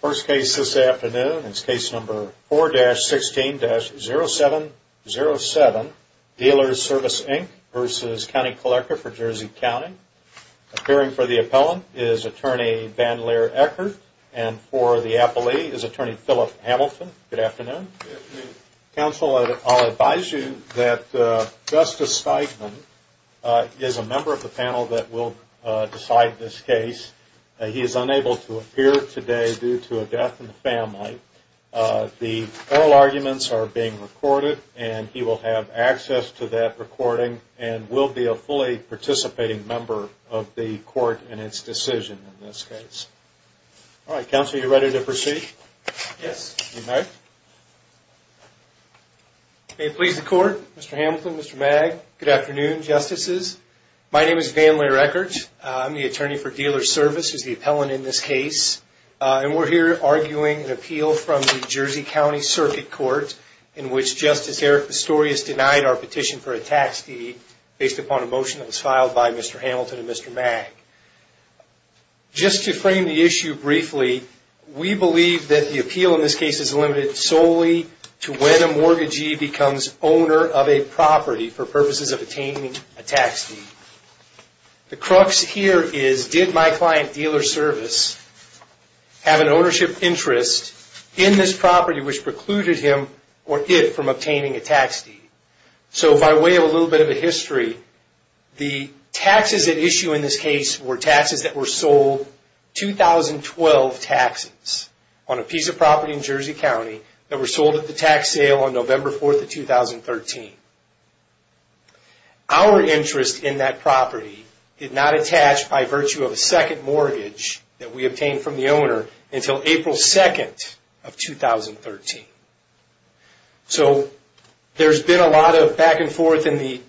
First case this afternoon is case number 4-16-0707, Dealers Service Inc. v. County Collector for Jersey County. Appearing for the appellant is Attorney Van Leer Eckert and for the appellee is Attorney Philip Hamilton. Good afternoon. Good afternoon. Counsel, I'll advise you that Justice Steigman is a member of the panel that will decide this case. He is unable to appear today due to a death in the family. The oral arguments are being recorded and he will have access to that recording and will be a fully participating member of the court in its decision in this case. All right, Counsel, are you ready to proceed? Yes. All right. May it please the Court, Mr. Hamilton, Mr. Mag, good afternoon, Justices. My name is Van Leer Eckert. I'm the attorney for Dealers Service, who is the appellant in this case, and we're here arguing an appeal from the Jersey County Circuit Court in which Justice Eric Pistorius denied our petition for a tax deed based upon a motion that was filed by Mr. Hamilton and Mr. Mag. Just to frame the issue briefly, we believe that the appeal in this case is limited solely to when a mortgagee becomes owner of a property for purposes of attaining a tax deed. The crux here is, did my client, Dealers Service, have an ownership interest in this property which precluded him or it from obtaining a tax deed? So by way of a little bit of a history, the taxes at issue in this case were taxes that were sold, 2012 taxes, on a piece of property in Jersey County that were sold at the tax sale on November 4th of 2013. Our interest in that property did not attach by virtue of a second mortgage that we obtained from the owner until April 2nd of 2013. So there's been a lot of back and forth in the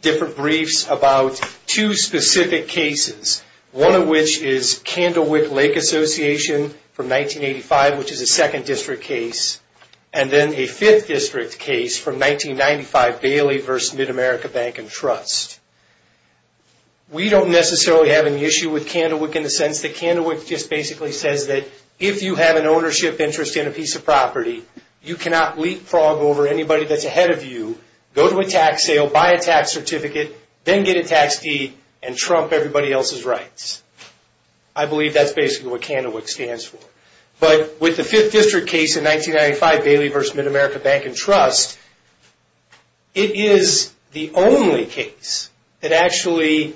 different briefs about two specific cases, one of which is Candlewick Lake Association from 1985, which is a second district case, and then a fifth district case from 1995, Bailey v. Mid-America Bank and Trust. We don't necessarily have an issue with Candlewick in the sense that Candlewick just basically says that if you have an ownership interest in a piece of property, you cannot leapfrog over anybody that's ahead of you, go to a tax sale, buy a tax certificate, then get a tax deed, and trump everybody else's rights. I believe that's basically what Candlewick stands for. But with the fifth district case in 1995, Bailey v. Mid-America Bank and Trust, it is the only case that actually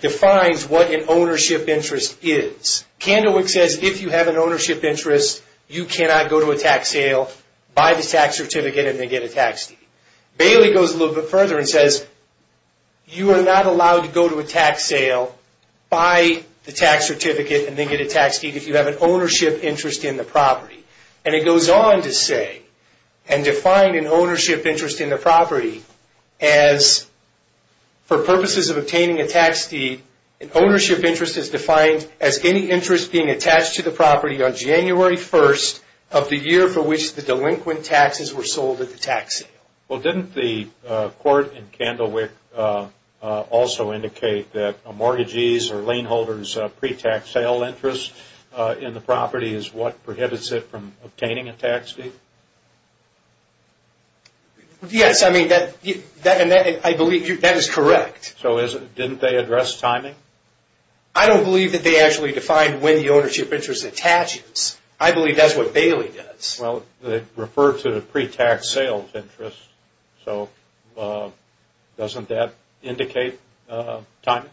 defines what an ownership interest is. Candlewick says if you have an ownership interest, you cannot go to a tax sale, buy the tax certificate, and then get a tax deed. Bailey goes a little bit further and says you are not allowed to go to a tax sale, buy the tax certificate, and then get a tax deed if you have an ownership interest in the property. And it goes on to say and define an ownership interest in the property as for purposes of obtaining a tax deed, an ownership interest is defined as any interest being attached to the property on January 1st of the year for which the delinquent taxes were sold at the tax sale. Well, didn't the court in Candlewick also indicate that a mortgagee's or a laneholder's pre-tax sale interest in the property is what prohibits it from obtaining a tax deed? Yes, I believe that is correct. So didn't they address timing? I don't believe that they actually defined when the ownership interest attaches. I believe that is what Bailey does. Well, they refer to the pre-tax sales interest, so doesn't that indicate timing?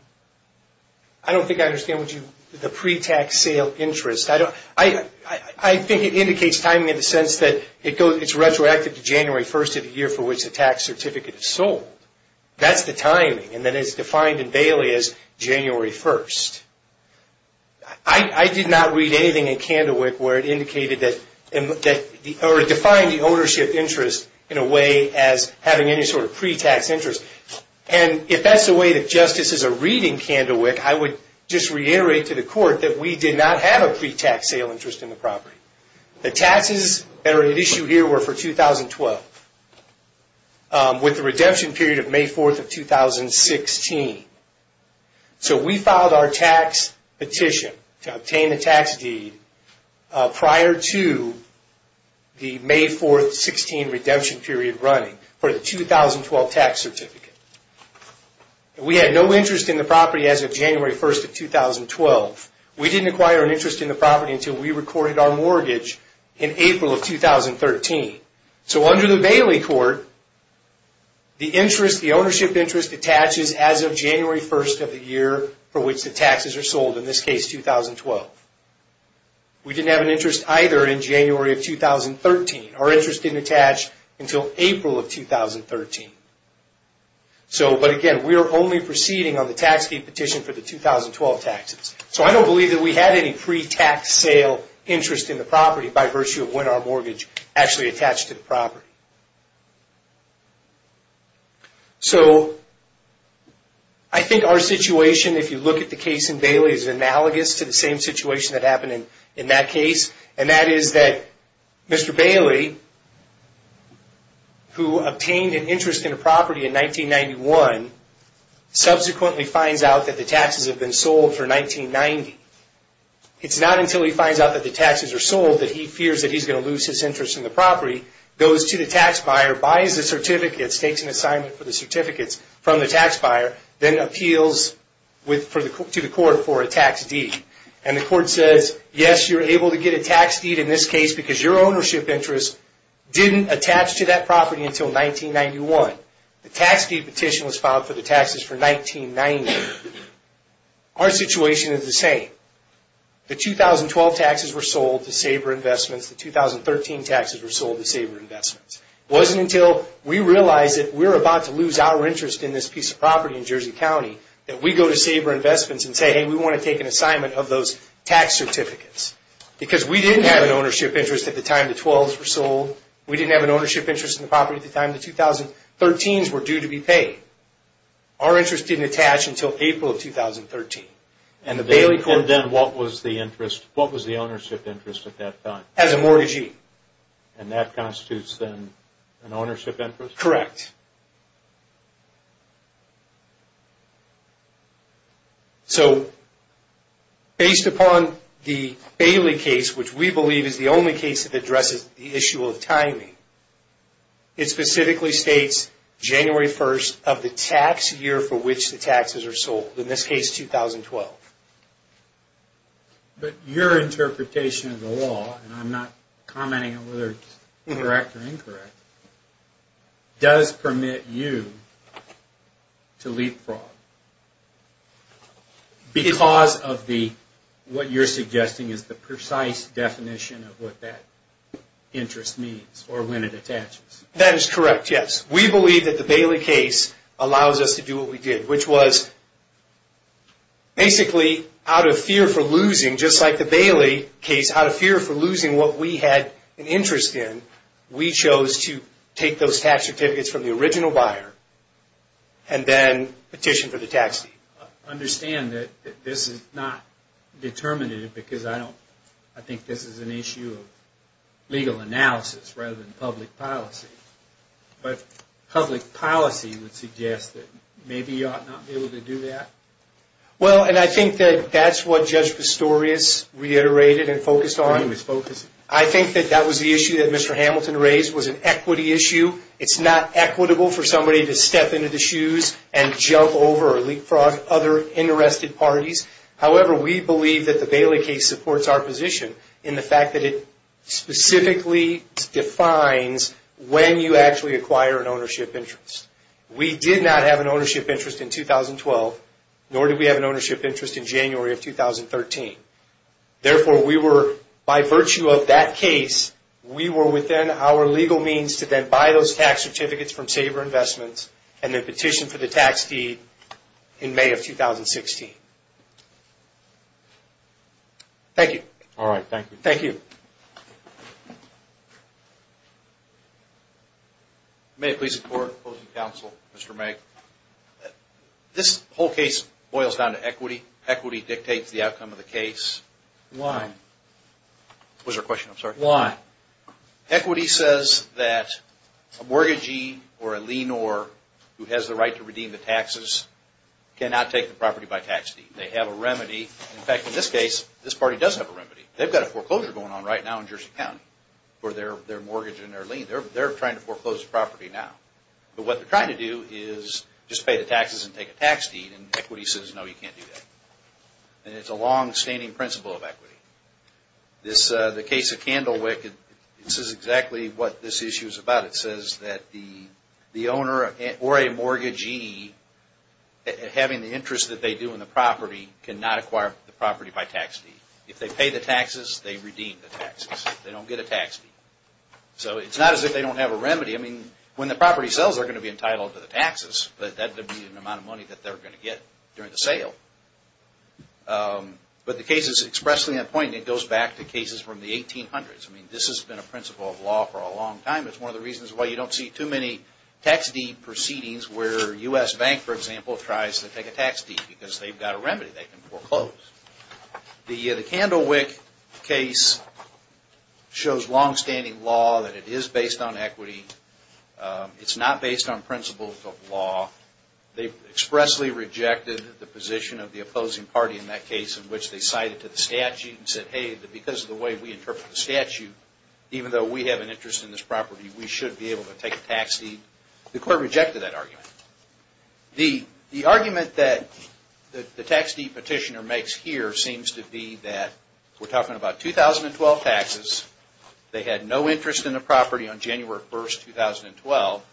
I don't think I understand what you mean by the pre-tax sale interest. I think it indicates timing in the sense that it is retroactive to January 1st of the year for which the tax certificate is sold. That is the timing, and then it is defined in Bailey as January 1st. I did not read anything in Candlewick where it indicated that or defined the ownership interest in a way as having any sort of pre-tax interest. And if that is the way that justices are reading Candlewick, I would just reiterate to the court that we did not have a pre-tax sale interest in the property. The taxes that are at issue here were for 2012 with the redemption period of May 4th of 2016. So we filed our tax petition to obtain a tax deed prior to the May 4th, 2016 redemption period running for the 2012 tax certificate. We had no interest in the property as of January 1st of 2012. We didn't acquire an interest in the property until we recorded our mortgage in April of 2013. So under the Bailey court, the ownership interest attaches as of January 1st of the year for which the taxes are sold, in this case 2012. We didn't have an interest either in January of 2013. Our interest didn't attach until April of 2013. But again, we are only proceeding on the tax deed petition for the 2012 taxes. So I don't believe that we had any pre-tax sale interest in the property by virtue of when our mortgage actually attached to the property. So I think our situation, if you look at the case in Bailey, is analogous to the same situation that happened in that case. And that is that Mr. Bailey, who obtained an interest in a property in 1991, subsequently finds out that the taxes have been sold for 1990. It's not until he finds out that the taxes are sold that he fears that he's going to lose his interest in the property, goes to the tax buyer, buys the certificates, takes an assignment for the certificates from the tax buyer, then appeals to the court for a tax deed. And the court says, yes, you're able to get a tax deed in this case because your ownership interest didn't attach to that property until 1991. The tax deed petition was filed for the taxes for 1990. Our situation is the same. The 2012 taxes were sold to Saber Investments. The 2013 taxes were sold to Saber Investments. It wasn't until we realized that we were about to lose our interest in this piece of property in Jersey County that we go to Saber Investments and say, hey, we want to take an assignment of those tax certificates. Because we didn't have an ownership interest at the time the 12s were sold. We didn't have an ownership interest in the property at the time the 2013s were due to be paid. Our interest didn't attach until April of 2013. And then what was the ownership interest at that time? As a mortgagee. And that constitutes then an ownership interest? Correct. So, based upon the Bailey case, which we believe is the only case that addresses the issue of timing, it specifically states January 1st of the tax year for which the taxes are sold. In this case, 2012. But your interpretation of the law, and I'm not commenting on whether it's correct or incorrect, does permit you to leapfrog. Because of what you're suggesting is the precise definition of what that interest means, or when it attaches. That is correct, yes. We believe that the Bailey case allows us to do what we did. Which was, basically, out of fear for losing, just like the Bailey case, out of fear for losing what we had an interest in, we chose to take those tax certificates from the original buyer, and then petition for the tax deed. I understand that this is not determinative, because I think this is an issue of legal analysis, rather than public policy. But public policy would suggest that maybe you ought not be able to do that? Well, and I think that that's what Judge Pistorius reiterated and focused on. I think that that was the issue that Mr. Hamilton raised, was an equity issue. It's not equitable for somebody to step into the shoes and jump over or leapfrog other interested parties. However, we believe that the Bailey case supports our position, in the fact that it specifically defines when you actually acquire an ownership interest. We did not have an ownership interest in 2012, nor did we have an ownership interest in January of 2013. Therefore, we were, by virtue of that case, we were within our legal means to then buy those tax certificates from Saber Investments, and then petition for the tax deed in May of 2016. All right, thank you. Thank you. May I please support opposing counsel, Mr. Megg? This whole case boils down to equity. Equity dictates the outcome of the case. Why? What was your question, I'm sorry? Why? Equity says that a mortgagee or a leanor who has the right to redeem the taxes cannot take the property by tax deed. They have a remedy. In fact, in this case, this party does have a remedy. They've got a foreclosure going on right now in Jersey City. For their mortgage and their lien. They're trying to foreclose the property now. But what they're trying to do is just pay the taxes and take a tax deed, and equity says, no, you can't do that. And it's a longstanding principle of equity. The case of Candlewick, this is exactly what this issue is about. It says that the owner or a mortgagee, having the interest that they do in the property, cannot acquire the property by tax deed. If they pay the taxes, they redeem the taxes. They don't get a tax deed. So it's not as if they don't have a remedy. I mean, when the property sells, they're going to be entitled to the taxes, but that would be an amount of money that they're going to get during the sale. But the case is expressly on point, and it goes back to cases from the 1800s. I mean, this has been a principle of law for a long time. It's one of the reasons why you don't see too many tax deed proceedings where a U.S. bank, for example, tries to take a tax deed, because they've got a remedy they can foreclose. The Candlewick case shows longstanding law that it is based on equity. It's not based on principles of law. They expressly rejected the position of the opposing party in that case in which they cited to the statute and said, hey, because of the way we interpret the statute, even though we have an interest in this property, we should be able to take a tax deed. The court rejected that argument. The argument that the tax deed petitioner makes here seems to be that we're talking about 2012 taxes. They had no interest in the property on January 1, 2012,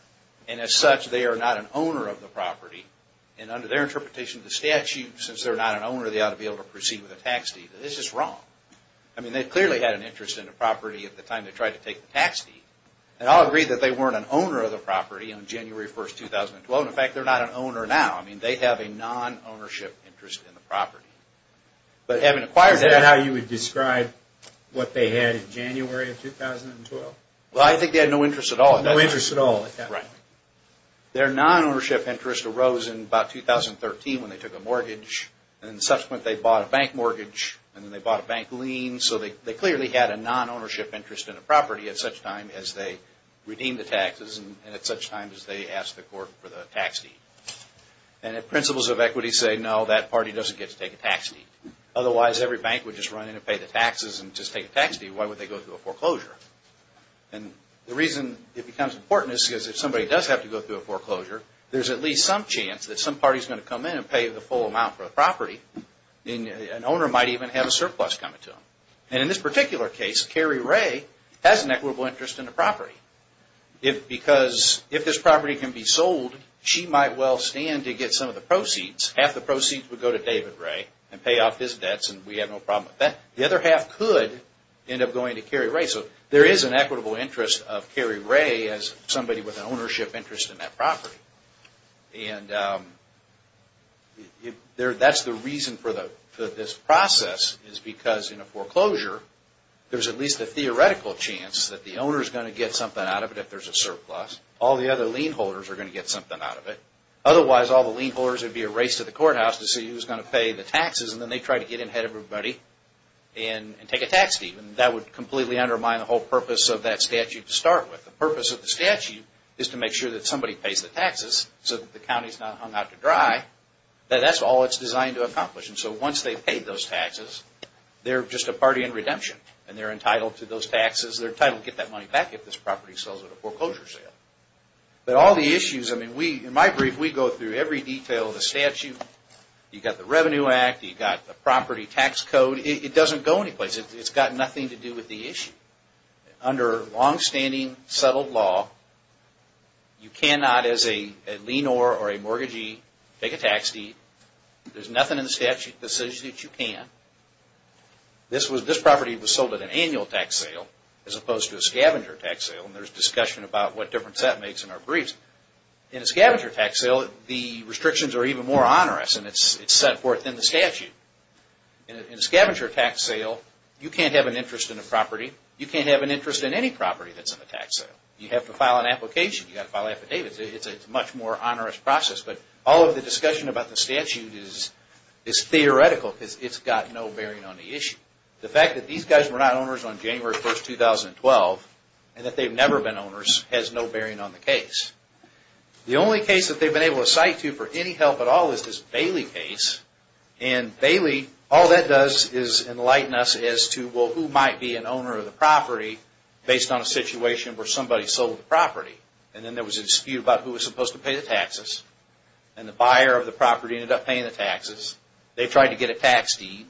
and as such, they are not an owner of the property. And under their interpretation of the statute, since they're not an owner, they ought to be able to proceed with a tax deed. This is wrong. I mean, they clearly had an interest in the property at the time they tried to take the tax deed. And I'll agree that they weren't an owner of the property on January 1, 2012. In fact, they're not an owner now. I mean, they have a non-ownership interest in the property. But having acquired that... Is that how you would describe what they had in January of 2012? Well, I think they had no interest at all at that time. No interest at all at that time. Right. Their non-ownership interest arose in about 2013 when they took a mortgage, and then subsequently they bought a bank mortgage, and then they bought a bank lien. So they clearly had a non-ownership interest in the property at such time as they redeemed the taxes and at such time as they asked the court for the tax deed. And the principles of equity say, no, that party doesn't get to take a tax deed. Otherwise, every bank would just run in and pay the taxes and just take a tax deed. Why would they go through a foreclosure? And the reason it becomes important is because if somebody does have to go through a foreclosure, there's at least some chance that some party's going to come in and pay the full amount for the property. An owner might even have a surplus coming to them. And in this particular case, Carrie Ray has an equitable interest in the property. Because if this property can be sold, she might well stand to get some of the proceeds. Half the proceeds would go to David Ray and pay off his debts, and we have no problem with that. The other half could end up going to Carrie Ray. So there is an equitable interest of Carrie Ray as somebody with an ownership interest in that property. And that's the reason for this process, is because in a foreclosure, there's at least a theoretical chance that the owner's going to get something out of it if there's a surplus. All the other lien holders are going to get something out of it. Otherwise, all the lien holders would be a race to the courthouse to see who's going to pay the taxes, and then they'd try to get ahead of everybody and take a tax deed. And that would completely undermine the whole purpose of that statute to start with. The purpose of the statute is to make sure that somebody pays the taxes so that the county's not hung out to dry. That's all it's designed to accomplish. And so once they've paid those taxes, they're just a party in redemption, and they're entitled to those taxes. They're entitled to get that money back if this property sells at a foreclosure sale. But all the issues, I mean, in my brief, we go through every detail of the statute. You've got the Revenue Act, you've got the property tax code. It doesn't go anyplace. It's got nothing to do with the issue. Under longstanding settled law, you cannot, as a lien or a mortgagee, take a tax deed. There's nothing in the statute that says that you can. This property was sold at an annual tax sale as opposed to a scavenger tax sale, and there's discussion about what difference that makes in our briefs. In a scavenger tax sale, the restrictions are even more onerous, and it's set forth in the statute. In a scavenger tax sale, you can't have an interest in a property. You can't have an interest in any property that's in a tax sale. You have to file an application. You've got to file affidavits. It's a much more onerous process. But all of the discussion about the statute is theoretical because it's got no bearing on the issue. The fact that these guys were not owners on January 1, 2012, and that they've never been owners, has no bearing on the case. The only case that they've been able to cite to for any help at all is this Bailey case, and Bailey, all that does is enlighten us as to who might be an owner of the property based on a situation where somebody sold the property. And then there was a dispute about who was supposed to pay the taxes, and the buyer of the property ended up paying the taxes. They tried to get a tax deed,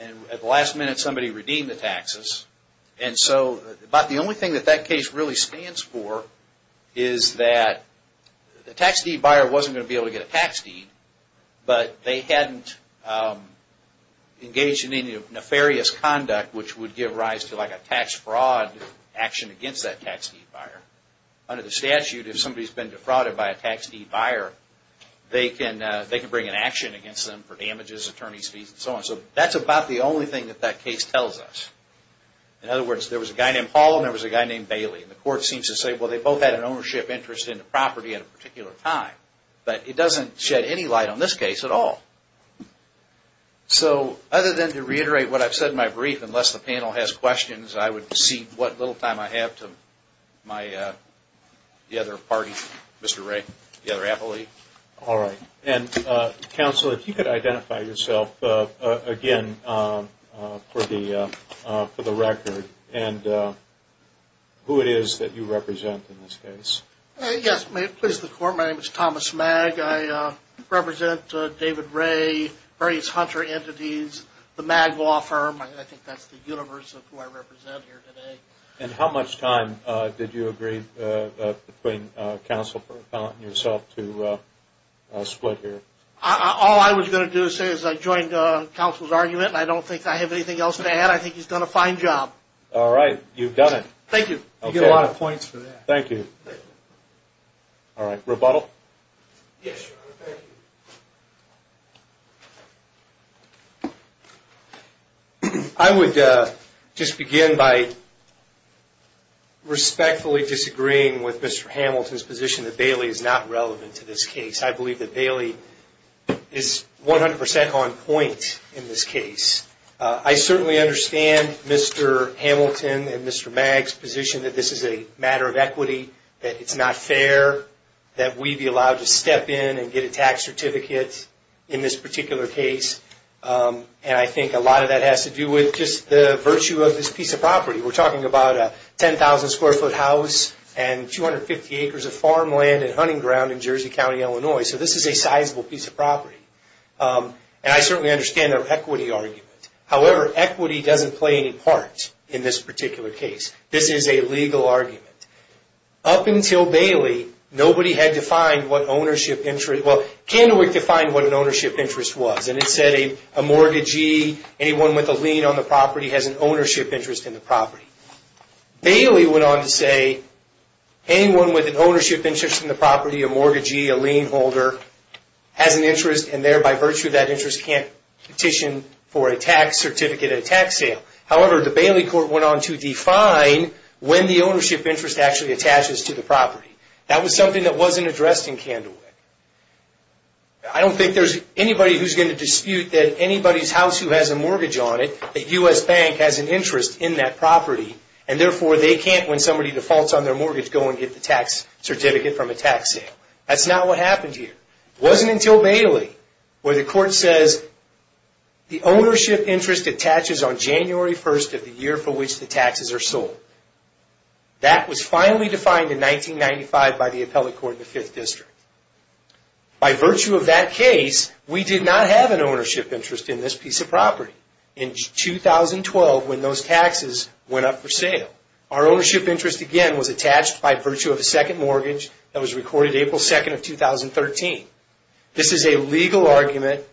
and at the last minute somebody redeemed the taxes. And so about the only thing that that case really stands for is that the tax deed buyer wasn't going to be able to get a tax deed, but they hadn't engaged in any nefarious conduct, which would give rise to a tax fraud action against that tax deed buyer. Under the statute, if somebody's been defrauded by a tax deed buyer, they can bring an action against them for damages, attorney's fees, and so on. So that's about the only thing that that case tells us. In other words, there was a guy named Paul, and there was a guy named Bailey. The court seems to say, well, they both had an ownership interest in the property at a particular time, but it doesn't shed any light on this case at all. So other than to reiterate what I've said in my brief, unless the panel has questions, I would cede what little time I have to the other party, Mr. Ray, the other appellee. All right. And counsel, if you could identify yourself again for the record and who it is that you represent in this case. Yes. My name is Thomas Magg. I represent David Ray, various Hunter entities, the Magg Law Firm. I think that's the universe of who I represent here today. And how much time did you agree between counsel and yourself to split here? All I was going to do is say is I joined counsel's argument, and I don't think I have anything else to add. I think he's done a fine job. All right. You've done it. Thank you. You get a lot of points for that. Thank you. All right. Rebuttal? Yes, Your Honor. Thank you. I would just begin by respectfully disagreeing with Mr. Hamilton's position that Bailey is not relevant to this case. I believe that Bailey is 100% on point in this case. I certainly understand Mr. Hamilton and Mr. Magg's position that this is a matter of equity, that it's not fair that we be allowed to step in and get a tax certificate in this particular case. And I think a lot of that has to do with just the virtue of this piece of property. We're talking about a 10,000-square-foot house and 250 acres of farmland and hunting ground in Jersey County, Illinois. So this is a sizable piece of property. And I certainly understand their equity argument. However, equity doesn't play any part in this particular case. This is a legal argument. Up until Bailey, nobody had defined what an ownership interest was. And it said a mortgagee, anyone with a lien on the property, has an ownership interest in the property. Bailey went on to say anyone with an ownership interest in the property, a mortgagee, a lien holder, has an interest and thereby, by virtue of that interest, can't petition for a tax certificate at a tax sale. However, the Bailey court went on to define when the ownership interest actually attaches to the property. That was something that wasn't addressed in Candlewick. I don't think there's anybody who's going to dispute that anybody's house who has a mortgage on it, a U.S. bank, has an interest in that property. And therefore, they can't, when somebody defaults on their mortgage, go and get the tax certificate from a tax sale. That's not what happened here. It wasn't until Bailey where the court says, the ownership interest attaches on January 1st of the year for which the taxes are sold. That was finally defined in 1995 by the appellate court in the 5th District. By virtue of that case, we did not have an ownership interest in this piece of property. In 2012, when those taxes went up for sale, our ownership interest, again, was attached by virtue of a second mortgage that was recorded April 2nd of 2013. This is a legal argument.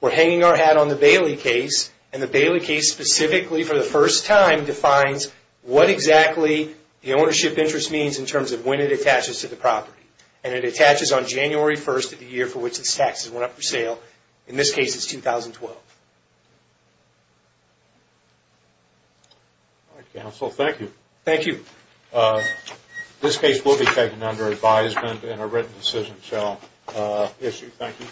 We're hanging our hat on the Bailey case, and the Bailey case specifically, for the first time, defines what exactly the ownership interest means in terms of when it attaches to the property. And it attaches on January 1st of the year for which its taxes went up for sale. In this case, it's 2012. All right, counsel. Thank you. Thank you. This case will be taken under advisement and a written decision shall issue. Thank you.